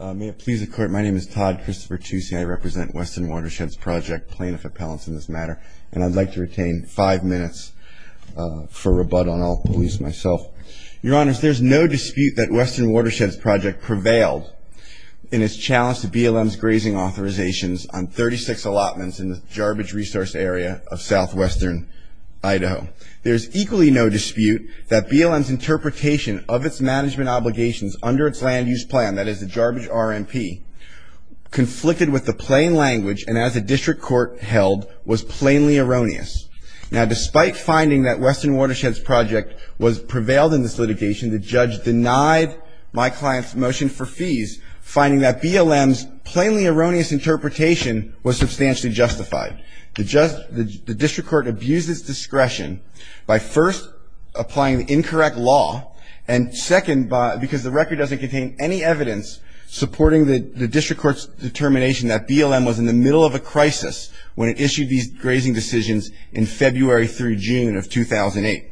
May it please the court, my name is Todd Christopher Tucci. I represent Western Watersheds Project plaintiff appellants in this matter, and I'd like to retain five minutes for rebuttal, and I'll release myself. Your honors, there's no dispute that Western Watersheds Project prevailed in its challenge to BLM's grazing authorizations on 36 allotments in the garbage resource area of southwestern Idaho. There's equally no dispute that BLM's interpretation of its management obligations under its land use plan, that is the garbage RMP, conflicted with the plain language, and as a district court held, was plainly erroneous. Now despite finding that Western Watersheds Project prevailed in this litigation, the judge denied my client's motion for fees, finding that BLM's plainly erroneous interpretation was substantially justified. The district court abused its discretion by first applying the incorrect law, and second, because the record doesn't contain any evidence supporting the district court's determination that BLM was in the middle of a crisis when it issued these grazing decisions in February through June of 2008.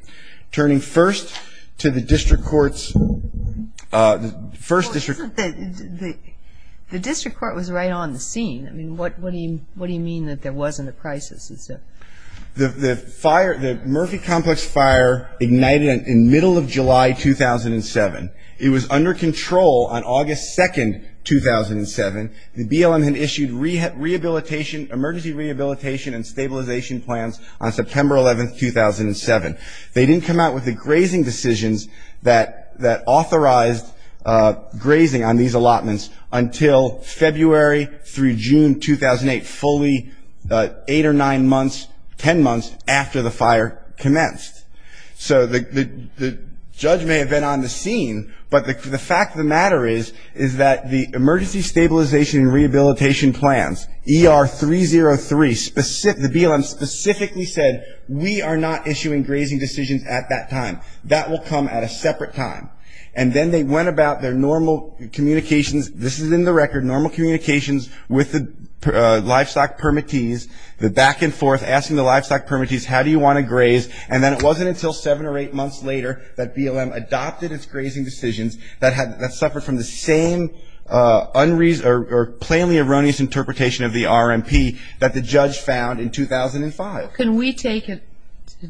Turning first to the district court's first district court. The district court was right on the scene. I mean, what do you mean that there wasn't a crisis? The Murphy Complex fire ignited in middle of July 2007. It was under control on August 2nd, 2007. The BLM had issued emergency rehabilitation and stabilization plans on September 11th, 2007. They didn't come out with the grazing decisions that authorized grazing on these allotments until February through June 2008, fully eight or nine months, ten months after the fire commenced. So the judge may have been on the scene, but the fact of the matter is, is that the emergency stabilization and rehabilitation plans, ER 303, the BLM specifically said, we are not issuing grazing decisions at that time. That will come at a separate time. And then they went about their normal communications. This is in the record, normal communications with the livestock permittees, the back and forth, asking the livestock permittees, how do you want to graze? And then it wasn't until seven or eight months later that BLM adopted its grazing decisions that suffered from the same unreasonable or plainly erroneous interpretation of the RMP that the judge found in 2005. Can we take it,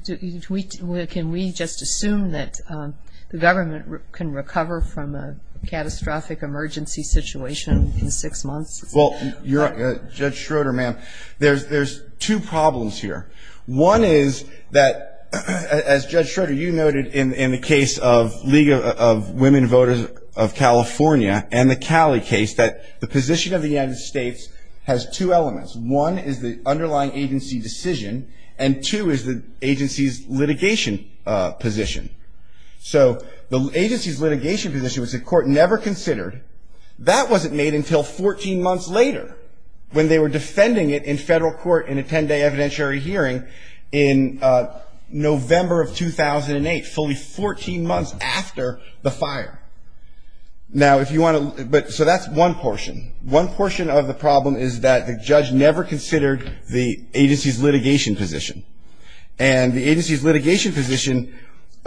can we just assume that the government can recover from a catastrophic emergency situation in six months? Well, Judge Schroeder, ma'am, there's two problems here. One is that, as Judge Schroeder, you noted in the case of League of Women Voters of California and the Cali case, that the position of the United States has two elements. One is the underlying agency decision, and two is the agency's litigation position. So the agency's litigation position was a court never considered. That wasn't made until 14 months later when they were defending it in federal court in a 10-day evidentiary hearing in November of 2008, fully 14 months after the fire. Now, if you want to ‑‑ so that's one portion. One portion of the problem is that the judge never considered the agency's litigation position. And the agency's litigation position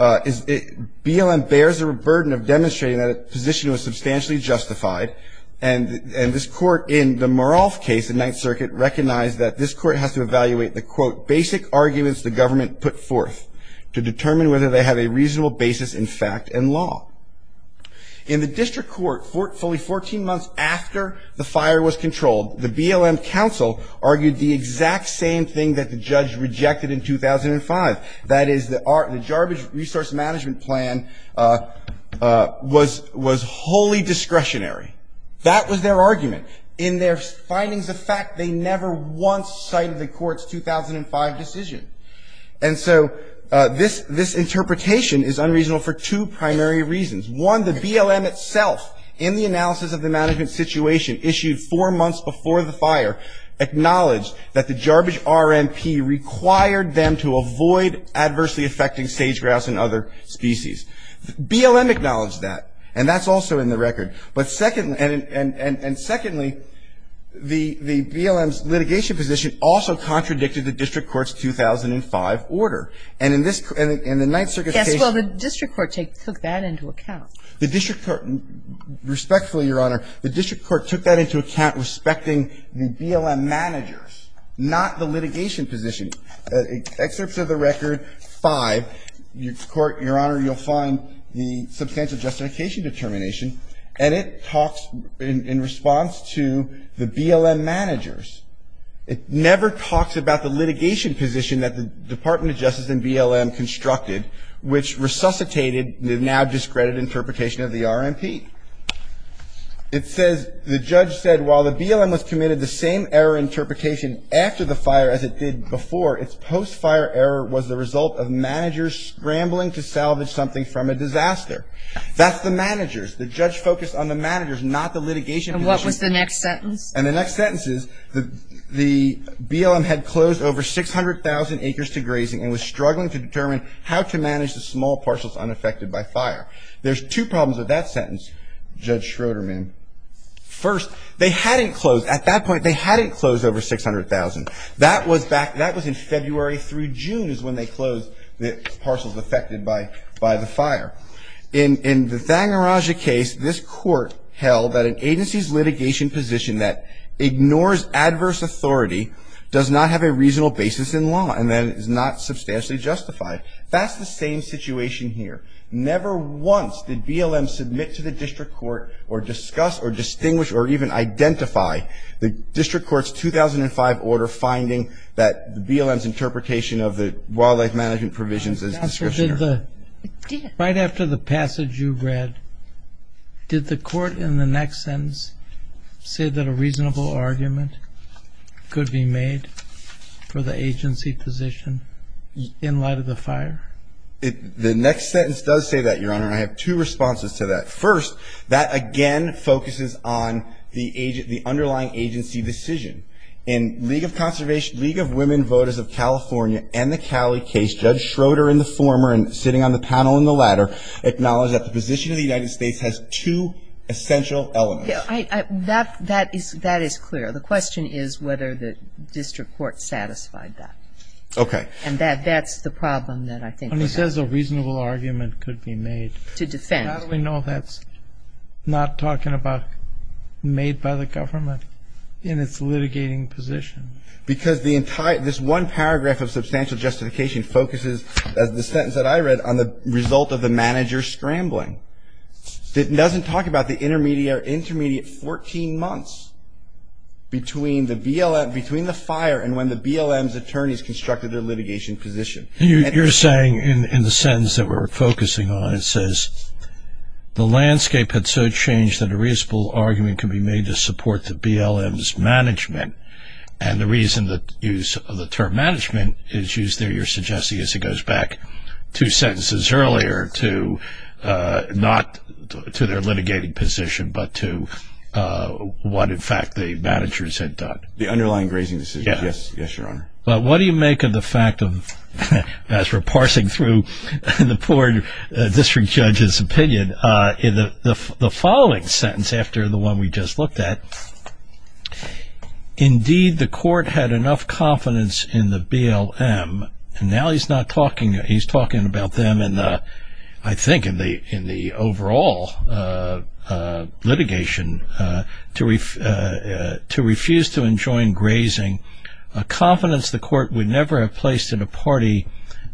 is ‑‑ BLM bears the burden of demonstrating that a position was substantially justified, and this court in the Morolf case in Ninth Circuit recognized that this court has to evaluate the, quote, basic arguments the government put forth to determine whether they have a reasonable basis in fact and law. In the district court, fully 14 months after the fire was controlled, the BLM counsel argued the exact same thing that the judge rejected in 2005, that is the garbage resource management plan was wholly discretionary. That was their argument. In their findings of fact, they never once cited the court's 2005 decision. And so this interpretation is unreasonable for two primary reasons. One, the BLM itself, in the analysis of the management situation issued four months before the fire, acknowledged that the garbage RNP required them to avoid adversely affecting sage grass and other species. BLM acknowledged that, and that's also in the record. And secondly, the BLM's litigation position also contradicted the district court's 2005 order. And in this, in the Ninth Circuit case the district court took that into account. The district court, respectfully, Your Honor, the district court took that into account respecting the BLM managers, not the litigation position. Excerpts of the record 5, Your Honor, you'll find the substantial justification determination, and it talks in response to the BLM managers. It never talks about the litigation position that the Department of Justice and BLM constructed, which resuscitated the now discredited interpretation of the RNP. It says the judge said while the BLM was committed the same error interpretation after the fire as it did before, its post-fire error was the result of managers scrambling to salvage something from a disaster. That's the managers. The judge focused on the managers, not the litigation position. And the next sentence is the BLM had closed over 600,000 acres to grazing and was struggling to determine how to manage the small parcels unaffected by fire. There's two problems with that sentence, Judge Schroederman. First, they hadn't closed, at that point they hadn't closed over 600,000. That was in February through June is when they closed the parcels affected by the fire. In the Thangarajah case, this court held that an agency's litigation position that ignores adverse authority does not have a reasonable basis in law and that it is not substantially justified. That's the same situation here. Never once did BLM submit to the district court or discuss or distinguish or even identify the district court's 2005 order finding that BLM's interpretation of the wildlife management provisions as description error. Right after the passage you read, did the court in the next sentence say that a reasonable argument could be made for the agency position in light of the fire? The next sentence does say that, Your Honor. I have two responses to that. First, that again focuses on the underlying agency decision. In League of Conservation, League of Women Voters of California and the Cowley case, Judge Schroeder and the former, sitting on the panel in the latter, acknowledge that the position of the United States has two essential elements. That is clear. The question is whether the district court satisfied that. Okay. And that's the problem that I think we have. When he says a reasonable argument could be made. To defend. How do we know that's not talking about made by the government in its litigating position? Because this one paragraph of substantial justification focuses, as the sentence that I read, on the result of the manager scrambling. It doesn't talk about the intermediate 14 months between the fire and when the BLM's attorneys constructed their litigation position. You're saying in the sentence that we're focusing on, it says, the landscape had so changed that a reasonable argument could be made to support the BLM's management. And the reason that use of the term management is used there, you're suggesting, as it goes back two sentences earlier, to not to their litigating position, but to what, in fact, the managers had done. The underlying grazing decision. Yes. Yes, Your Honor. But what do you make of the fact of, as we're parsing through the poor district judge's opinion, the following sentence after the one we just looked at. Indeed, the court had enough confidence in the BLM, and now he's talking about them, I think, in the overall litigation, to refuse to enjoin grazing, a confidence the court would never have placed in a party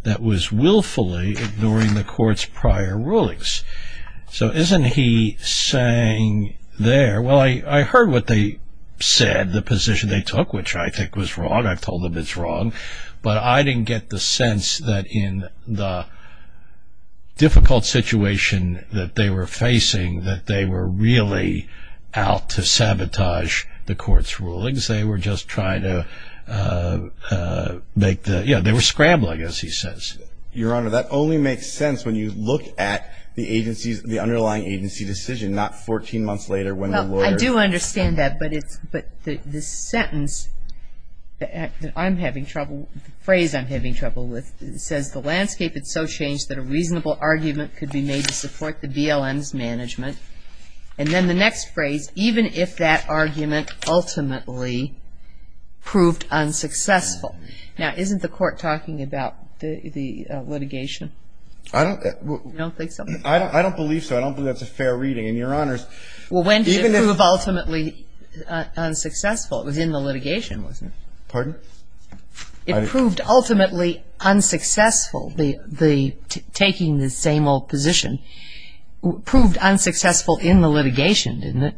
that was willfully ignoring the court's prior rulings. So isn't he saying there, well, I heard what they said, the position they took, which I think was wrong. I've told them it's wrong. But I didn't get the sense that in the difficult situation that they were facing, they were just trying to make the, you know, they were scrambling, as he says. Your Honor, that only makes sense when you look at the agency's, the underlying agency decision, not 14 months later when the lawyer. Well, I do understand that. But the sentence that I'm having trouble, the phrase I'm having trouble with, says the landscape had so changed that a reasonable argument could be made to support the BLM's management. And then the next phrase, even if that argument ultimately proved unsuccessful. Now, isn't the court talking about the litigation? I don't think so. I don't believe so. I don't believe that's a fair reading. And, Your Honors. Well, when did it prove ultimately unsuccessful? It was in the litigation, wasn't it? Pardon? It proved ultimately unsuccessful, the taking the same old position, proved unsuccessful in the litigation, didn't it?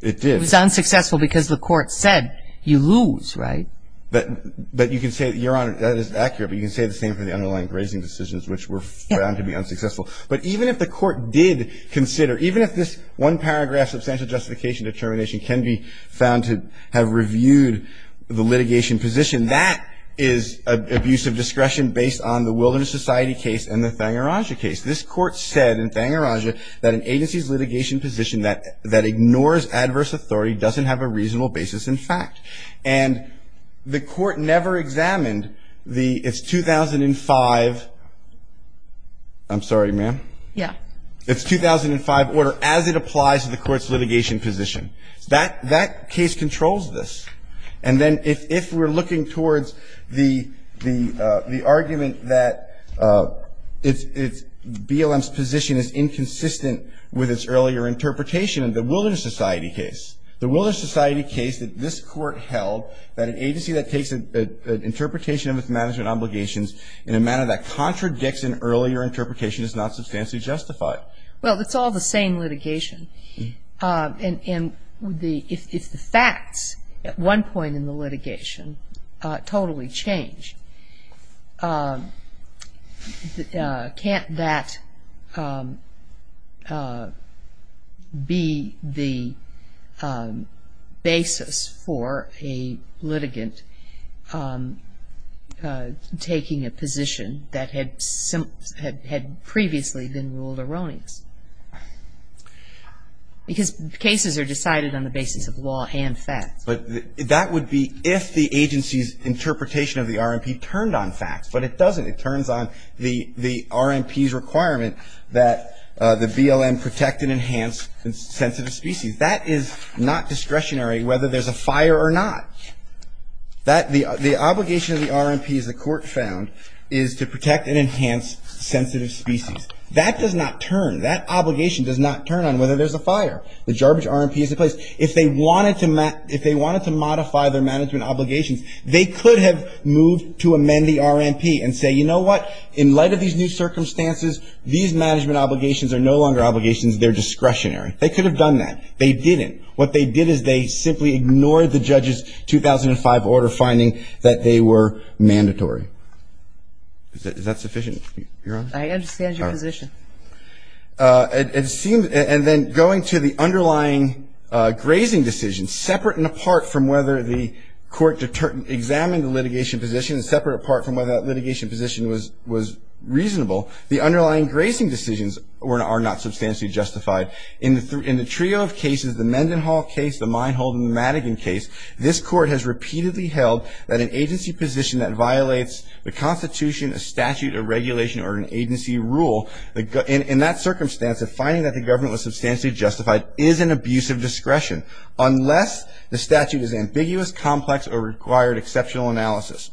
It did. It was unsuccessful because the court said you lose, right? But you can say, Your Honor, that is accurate, but you can say the same for the underlying grazing decisions, which were found to be unsuccessful. But even if the court did consider, even if this one paragraph substantial justification determination can be found to have reviewed the litigation position, that is abuse of discretion based on the Wilderness Society case and the Thangarajah case. This court said in Thangarajah that an agency's litigation position that ignores adverse authority doesn't have a reasonable basis in fact. And the court never examined the, it's 2005, I'm sorry, ma'am. Yeah. It's 2005 order as it applies to the court's litigation position. That case controls this. And then if we're looking towards the argument that BLM's position is inconsistent with its earlier interpretation of the Wilderness Society case, the Wilderness Society case that this court held that an agency that takes an interpretation of its management obligations in a manner that contradicts an earlier interpretation is not substantially justified. Well, it's all the same litigation. And if the facts at one point in the litigation totally change, can't that be the basis for a litigant taking a position that had previously been ruled erroneous? Because cases are decided on the basis of law and facts. But that would be if the agency's interpretation of the RMP turned on facts. But it doesn't. It turns on the RMP's requirement that the BLM protect and enhance sensitive species. That is not discretionary whether there's a fire or not. The obligation of the RMP, as the court found, is to protect and enhance sensitive species. That does not turn. That obligation does not turn on whether there's a fire. The garbage RMP is in place. If they wanted to modify their management obligations, they could have moved to amend the RMP and say, you know what? In light of these new circumstances, these management obligations are no longer obligations. They're discretionary. They could have done that. They didn't. What they did is they simply ignored the judge's 2005 order finding that they were mandatory. Is that sufficient, Your Honor? I understand your position. And then going to the underlying grazing decision, separate and apart from whether the court examined the litigation position, separate and apart from whether that litigation position was reasonable, the underlying grazing decisions are not substantially justified. In the trio of cases, the Mendenhall case, the Minehold, and the Madigan case, this court has repeatedly held that an agency position that violates the Constitution, a statute, a regulation, or an agency rule, in that circumstance, a finding that the government was substantially justified is an abuse of discretion, unless the statute is ambiguous, complex, or required exceptional analysis.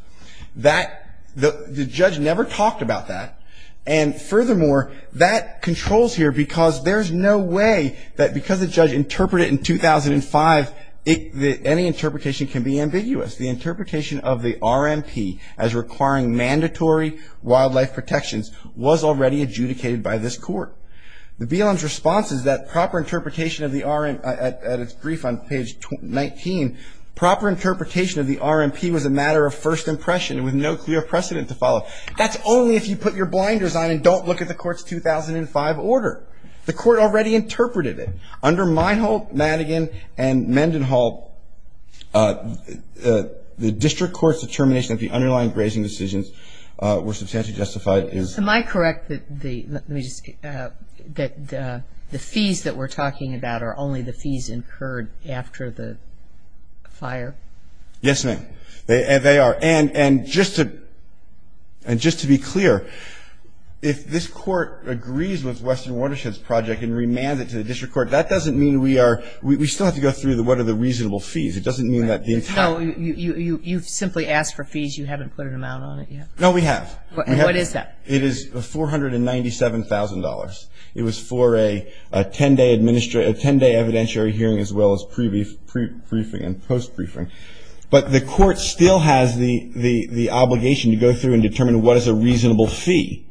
The judge never talked about that. And furthermore, that controls here because there's no way that because the judge interpreted it in 2005, any interpretation can be ambiguous. The interpretation of the RMP as requiring mandatory wildlife protections was already adjudicated by this court. The BLM's response is that proper interpretation of the RMP, at its brief on page 19, proper interpretation of the RMP was a matter of first impression with no clear precedent to follow. That's only if you put your blinders on and don't look at the court's 2005 order. The court already interpreted it. Under Minehold, Madigan, and Mendenhall, the district court's determination that the underlying grazing decisions were substantially justified is ‑‑ Am I correct that the fees that we're talking about are only the fees incurred after the fire? Yes, ma'am. They are. And just to be clear, if this court agrees with Western Watersheds Project and remands it to the district court, that doesn't mean we are ‑‑ we still have to go through what are the reasonable fees. It doesn't mean that the entire ‑‑ No, you've simply asked for fees. You haven't put an amount on it yet. No, we have. What is that? It is $497,000. It was for a 10‑day evidentiary hearing as well as prebriefing and postbriefing. But the court still has the obligation to go through and determine what is a reasonable fee.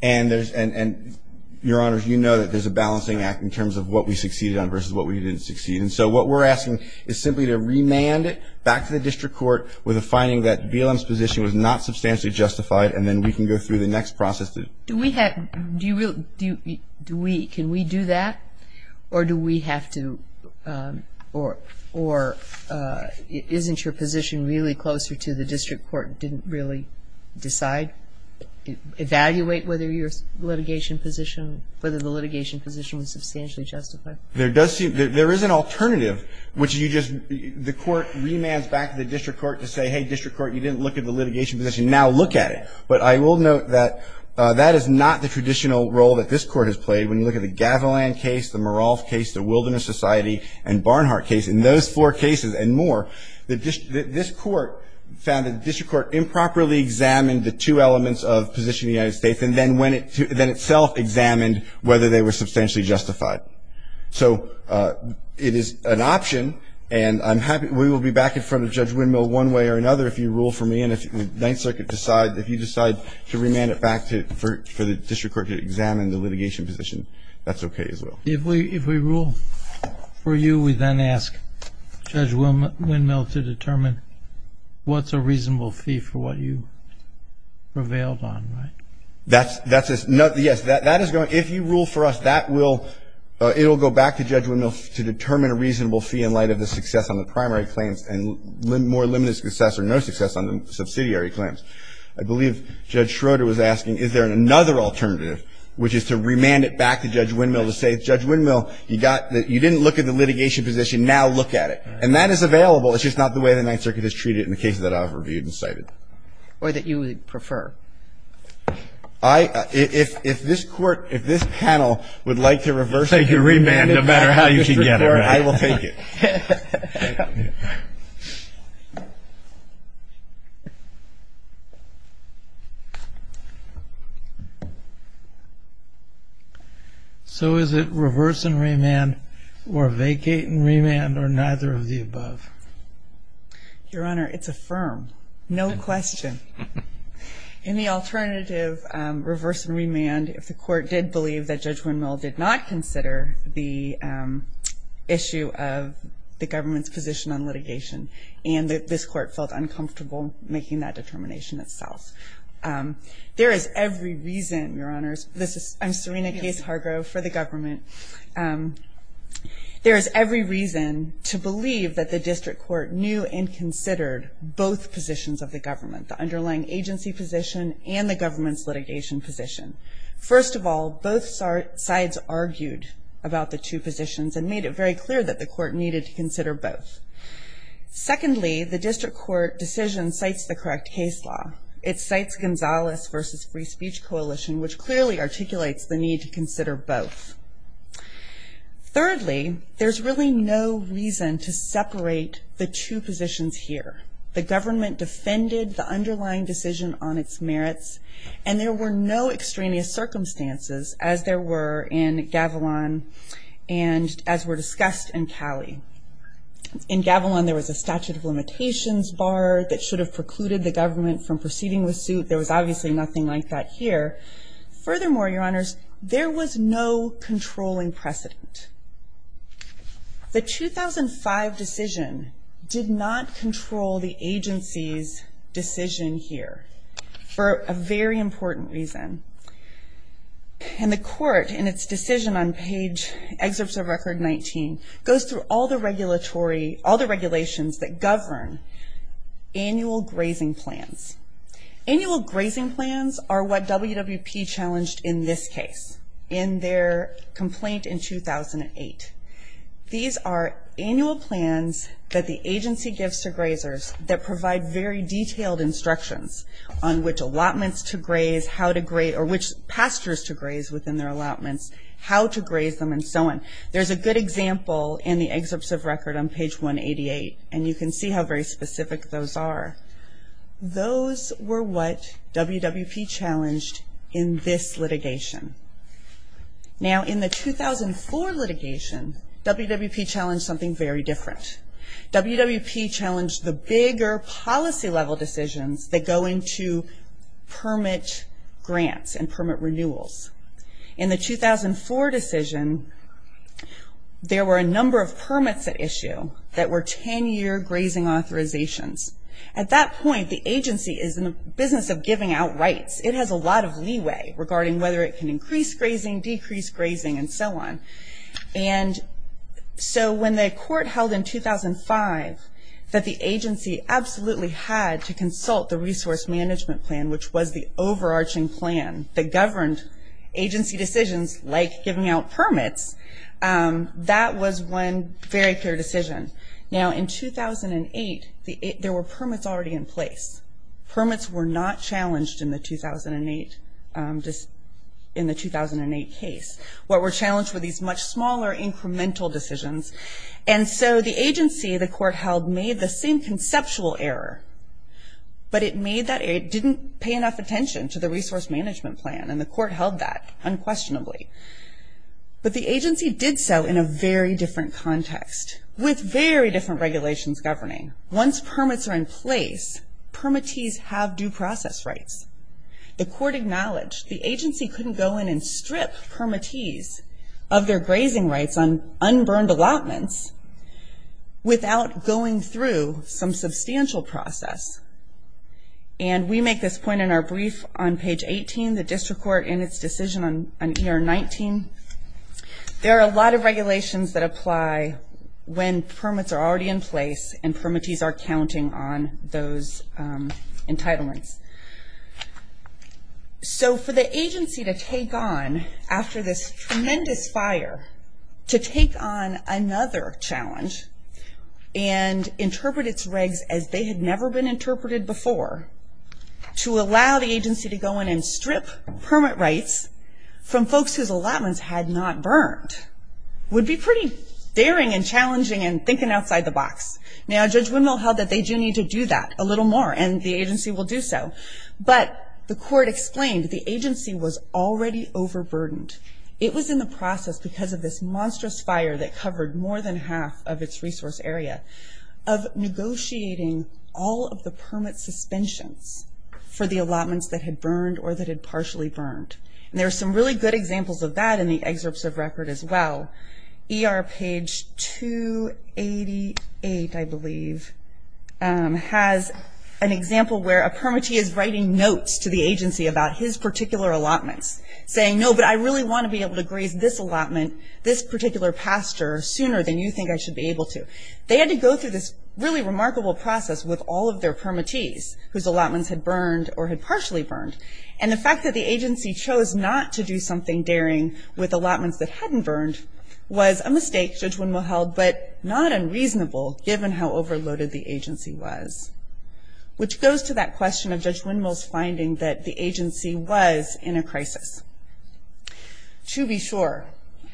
And, Your Honors, you know that there's a balancing act in terms of what we succeeded on versus what we didn't succeed. And so what we're asking is simply to remand it back to the district court with a finding that BLM's position was not substantially justified, and then we can go through the next process. Do we have ‑‑ can we do that? Or do we have to ‑‑ or isn't your position really closer to the district court didn't really decide, evaluate whether your litigation position, whether the litigation position was substantially justified? There is an alternative, which you just ‑‑ the court remands back to the district court to say, hey, district court, you didn't look at the litigation position, now look at it. But I will note that that is not the traditional role that this court has played. When you look at the Gavilan case, the Merolf case, the Wilderness Society, and Barnhart case, in those four cases and more, this court found that the district court improperly examined the two elements of the position of the United States and then itself examined whether they were substantially justified. So it is an option, and I'm happy ‑‑ we will be back in front of Judge Windmill one way or another if you rule for me, and if the Ninth Circuit decides, if you decide to remand it back for the district court to examine the litigation position, that's okay as well. If we rule for you, we then ask Judge Windmill to determine what's a reasonable fee for what you prevailed on, right? That's ‑‑ yes, that is going ‑‑ if you rule for us, that will ‑‑ it will go back to Judge Windmill to determine a reasonable fee in light of the success on the primary claims and more limited success or no success on the subsidiary claims. I believe Judge Schroeder was asking, is there another alternative, which is to remand it back to Judge Windmill to say, Judge Windmill, you got ‑‑ you didn't look at the litigation position. Now look at it. And that is available. It's just not the way the Ninth Circuit has treated it in the cases that I've reviewed and cited. Or that you would prefer. I ‑‑ if this court, if this panel would like to reverse the ‑‑ Take your remand, no matter how you get it, right? I will take it. Thank you. So is it reverse and remand or vacate and remand or neither of the above? Your Honor, it's affirmed. No question. In the alternative reverse and remand, if the court did believe that Judge Windmill did not consider the issue of the government's position on litigation and that this court felt uncomfortable making that determination itself, there is every reason, Your Honors, this is ‑‑ I'm Serena Case Hargrove for the government. There is every reason to believe that the district court knew and considered both positions of the government, the underlying agency position and the government's litigation position. First of all, both sides argued about the two positions and made it very clear that the court needed to consider both. Secondly, the district court decision cites the correct case law. It cites Gonzales v. Free Speech Coalition, which clearly articulates the need to consider both. Thirdly, there's really no reason to separate the two positions here. The government defended the underlying decision on its merits and there were no extraneous circumstances, as there were in Gavilan and as were discussed in Cali. In Gavilan, there was a statute of limitations bar that should have precluded the government from proceeding with suit. There was obviously nothing like that here. Furthermore, Your Honors, there was no controlling precedent. The 2005 decision did not control the agency's decision here for a very important reason. The court, in its decision on page excerpts of Record 19, goes through all the regulations that govern annual grazing plans. Annual grazing plans are what WWP challenged in this case, in their complaint in 2008. These are annual plans that the agency gives to grazers that provide very detailed instructions on which allotments to graze, how to graze, or which pastures to graze within their allotments, how to graze them, and so on. There's a good example in the excerpts of Record on page 188, and you can see how very specific those are. Those were what WWP challenged in this litigation. Now, in the 2004 litigation, WWP challenged something very different. WWP challenged the bigger policy-level decisions that go into permit grants and permit renewals. In the 2004 decision, there were a number of permits at issue that were 10-year grazing authorizations. At that point, the agency is in the business of giving out rights. It has a lot of leeway regarding whether it can increase grazing, decrease grazing, and so on. When the court held in 2005 that the agency absolutely had to consult the resource management plan, which was the overarching plan that governed agency decisions like giving out permits, that was one very clear decision. Now, in 2008, there were permits already in place. Permits were not challenged in the 2008 case. What were challenged were these much smaller incremental decisions, and so the agency the court held made the same conceptual error, but it didn't pay enough attention to the resource management plan, and the court held that unquestionably. But the agency did so in a very different context with very different regulations governing. Once permits are in place, permittees have due process rights. The court acknowledged the agency couldn't go in and strip permittees of their grazing rights on unburned allotments without going through some substantial process. And we make this point in our brief on page 18, the district court in its decision on year 19. There are a lot of regulations that apply when permits are already in place and permittees are counting on those entitlements. So for the agency to take on, after this tremendous fire, to take on another challenge and interpret its regs as they had never been interpreted before, to allow the agency to go in and strip permit rights from folks whose allotments had not burned would be pretty daring and challenging and thinking outside the box. Now, Judge Windmill held that they do need to do that a little more and the agency will do so. But the court explained the agency was already overburdened. It was in the process, because of this monstrous fire that covered more than half of its resource area, of negotiating all of the permit suspensions for the allotments that had burned or that had partially burned. And there are some really good examples of that in the excerpts of record as well. ER page 288, I believe, has an example where a permittee is writing notes to the agency about his particular allotments, saying, no, but I really want to be able to graze this allotment, this particular pasture, sooner than you think I should be able to. They had to go through this really remarkable process with all of their permittees, whose allotments had burned or had partially burned. And the fact that the agency chose not to do something daring with allotments that hadn't burned was a mistake Judge Windmill held, but not unreasonable, given how overloaded the agency was. Which goes to that question of Judge Windmill's finding that the agency was in a crisis. To be sure,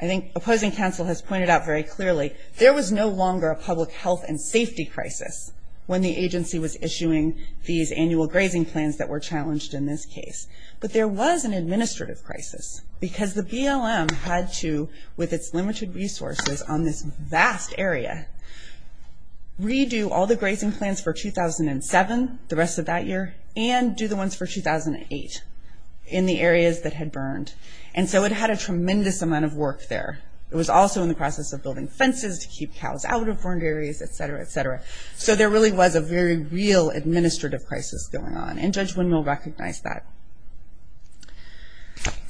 I think opposing counsel has pointed out very clearly, there was no longer a public health and safety crisis when the agency was issuing these annual grazing plans that were challenged in this case. But there was an administrative crisis, because the BLM had to, with its limited resources on this vast area, redo all the grazing plans for 2007, the rest of that year, and do the ones for 2008, in the areas that had burned. And so it had a tremendous amount of work there. It was also in the process of building fences to keep cows out of burned areas, et cetera, et cetera. So there really was a very real administrative crisis going on. And Judge Windmill recognized that.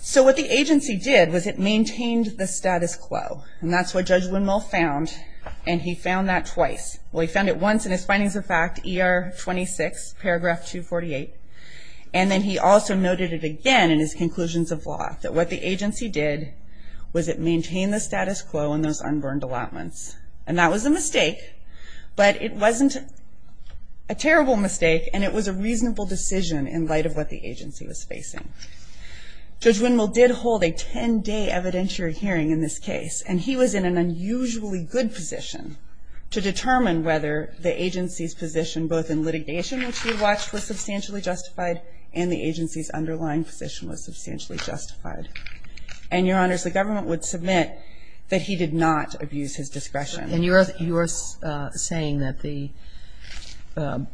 So what the agency did was it maintained the status quo. And that's what Judge Windmill found. And he found that twice. Well, he found it once in his findings of fact, ER 26, paragraph 248. And then he also noted it again in his conclusions of law, that what the agency did was it maintained the status quo in those unburned allotments. And that was a mistake, but it wasn't a terrible mistake, and it was a reasonable decision in light of what the agency was facing. Judge Windmill did hold a 10-day evidentiary hearing in this case. And he was in an unusually good position to determine whether the agency's position, both in litigation, which he watched, was substantially justified, and the agency's underlying position was substantially justified. And, Your Honors, the government would submit that he did not abuse his discretion. And you're saying that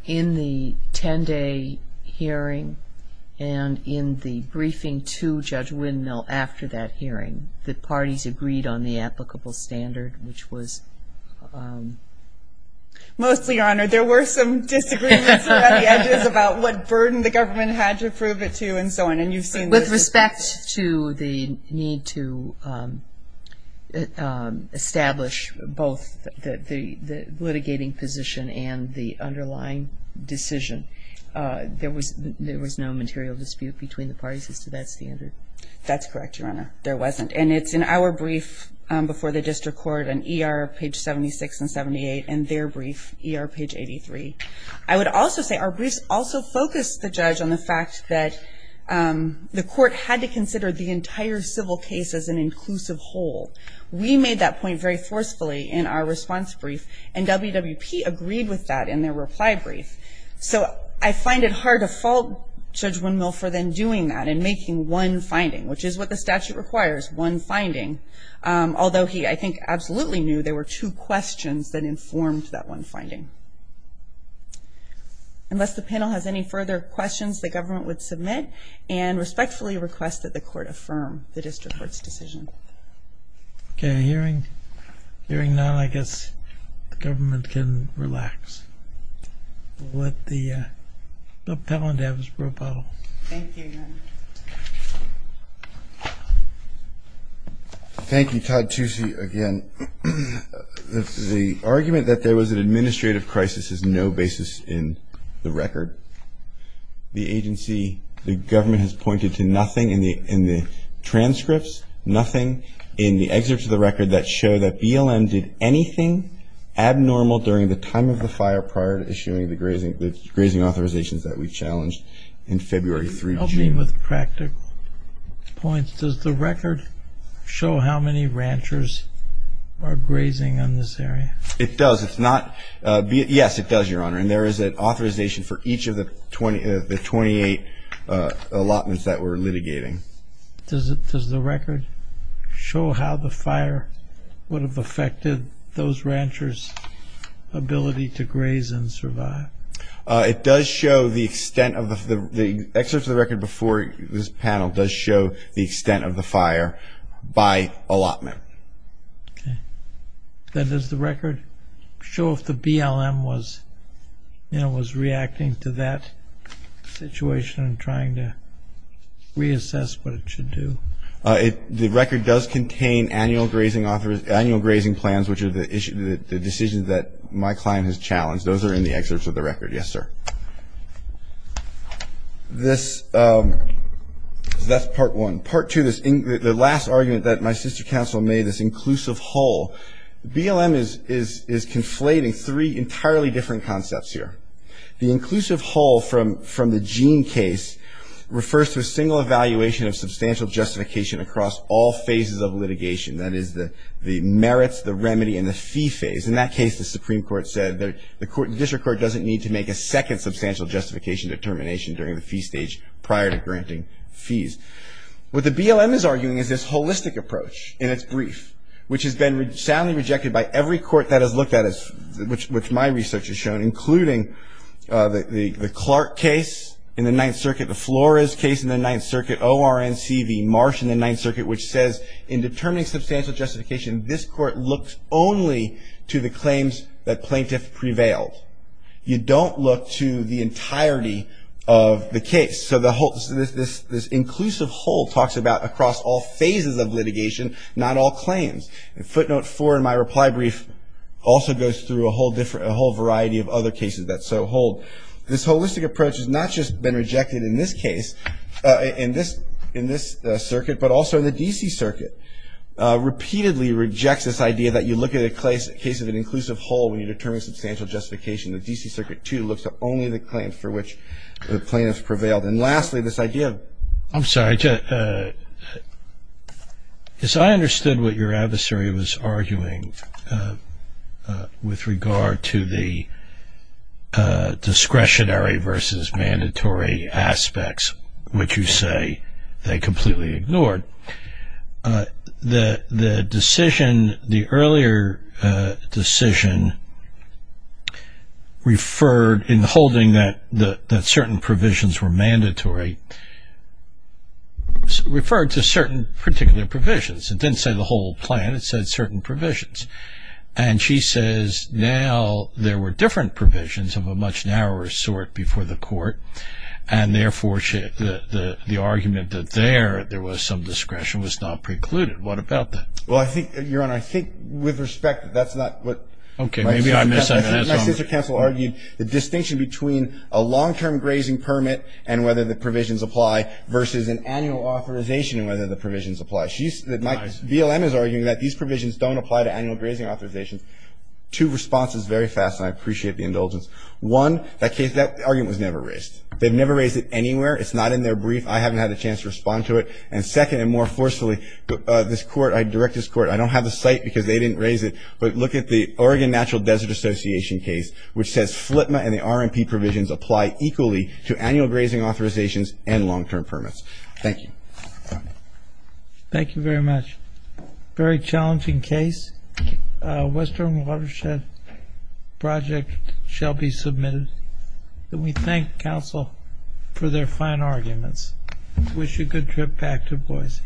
in the 10-day hearing and in the briefing to Judge Windmill after that hearing, the parties agreed on the applicable standard, which was? Mostly, Your Honor, there were some disagreements around the edges about what burden the government had to prove it to and so on. With respect to the need to establish both the litigating position and the underlying decision, there was no material dispute between the parties as to that standard? That's correct, Your Honor. There wasn't. And it's in our brief before the district court on ER, page 76 and 78, and their brief, ER, page 83. I would also say our briefs also focused the judge on the fact that the court had to consider the entire civil case as an inclusive whole. We made that point very forcefully in our response brief, and WWP agreed with that in their reply brief. So I find it hard to fault Judge Windmill for then doing that and making one finding, which is what the statute requires, one finding, although he, I think, absolutely knew there were two questions that informed that one finding. Unless the panel has any further questions, the government would submit and respectfully request that the court affirm the district court's decision. Okay. Hearing none, I guess the government can relax. We'll let the panel to have its brew bottle. Thank you, Your Honor. Thank you, Todd Tucci, again. The argument that there was an administrative crisis is no basis in the record. The agency, the government has pointed to nothing in the transcripts, nothing in the excerpts of the record that show that BLM did anything abnormal during the time of the fire prior to issuing the grazing authorizations that we challenged in February through June. In line with practical points, does the record show how many ranchers are grazing in this area? It does. Yes, it does, Your Honor, and there is an authorization for each of the 28 allotments that we're litigating. Does the record show how the fire would have affected those ranchers' ability to graze and survive? It does show the extent of the – the excerpts of the record before this panel does show the extent of the fire by allotment. Okay. Then does the record show if the BLM was reacting to that situation and trying to reassess what it should do? The record does contain annual grazing plans, which are the decisions that my client has challenged. Those are in the excerpts of the record. Yes, sir. This – that's part one. Part two, the last argument that my sister counsel made, this inclusive whole, BLM is conflating three entirely different concepts here. The inclusive whole from the Gene case refers to a single evaluation of substantial justification across all phases of litigation, that is, the merits, the remedy, and the fee phase. In that case, the Supreme Court said that the court – the district court doesn't need to make a second substantial justification determination during the fee stage prior to granting fees. What the BLM is arguing is this holistic approach in its brief, which has been soundly rejected by every court that has looked at this, which my research has shown, including the Clark case in the Ninth Circuit, the Flores case in the Ninth Circuit, ORNC v. Marsh in the Ninth Circuit, which says in determining substantial justification, this court looks only to the claims that plaintiff prevailed. You don't look to the entirety of the case. So this inclusive whole talks about across all phases of litigation, not all claims. Footnote four in my reply brief also goes through a whole variety of other cases that so hold. This holistic approach has not just been rejected in this case, in this circuit, but also in the D.C. Circuit, repeatedly rejects this idea that you look at a case of an inclusive whole when you determine substantial justification. The D.C. Circuit, too, looks at only the claims for which the plaintiff prevailed. And lastly, this idea of – I'm sorry. As I understood what your adversary was arguing with regard to the discretionary versus mandatory aspects, which you say they completely ignored. The decision, the earlier decision, referred in holding that certain provisions were mandatory, referred to certain particular provisions. It didn't say the whole plan. It said certain provisions. And she says now there were different provisions of a much narrower sort before the court, and therefore the argument that there, there was some discretion was not precluded. What about that? Well, I think, Your Honor, I think with respect, that's not what my sister counsel argued. The distinction between a long-term grazing permit and whether the provisions apply versus an annual authorization and whether the provisions apply. BLM is arguing that these provisions don't apply to annual grazing authorizations. Two responses very fast, and I appreciate the indulgence. One, that case, that argument was never raised. They've never raised it anywhere. It's not in their brief. I haven't had a chance to respond to it. And second, and more forcefully, this Court, I direct this Court, I don't have the site because they didn't raise it, but look at the Oregon Natural Desert Association case, which says FLTMA and the RMP provisions apply equally to annual grazing authorizations and long-term permits. Thank you. Thank you very much. Very challenging case. Western Watershed Project shall be submitted. And we thank counsel for their fine arguments. Wish you a good trip back to Boise. All rise.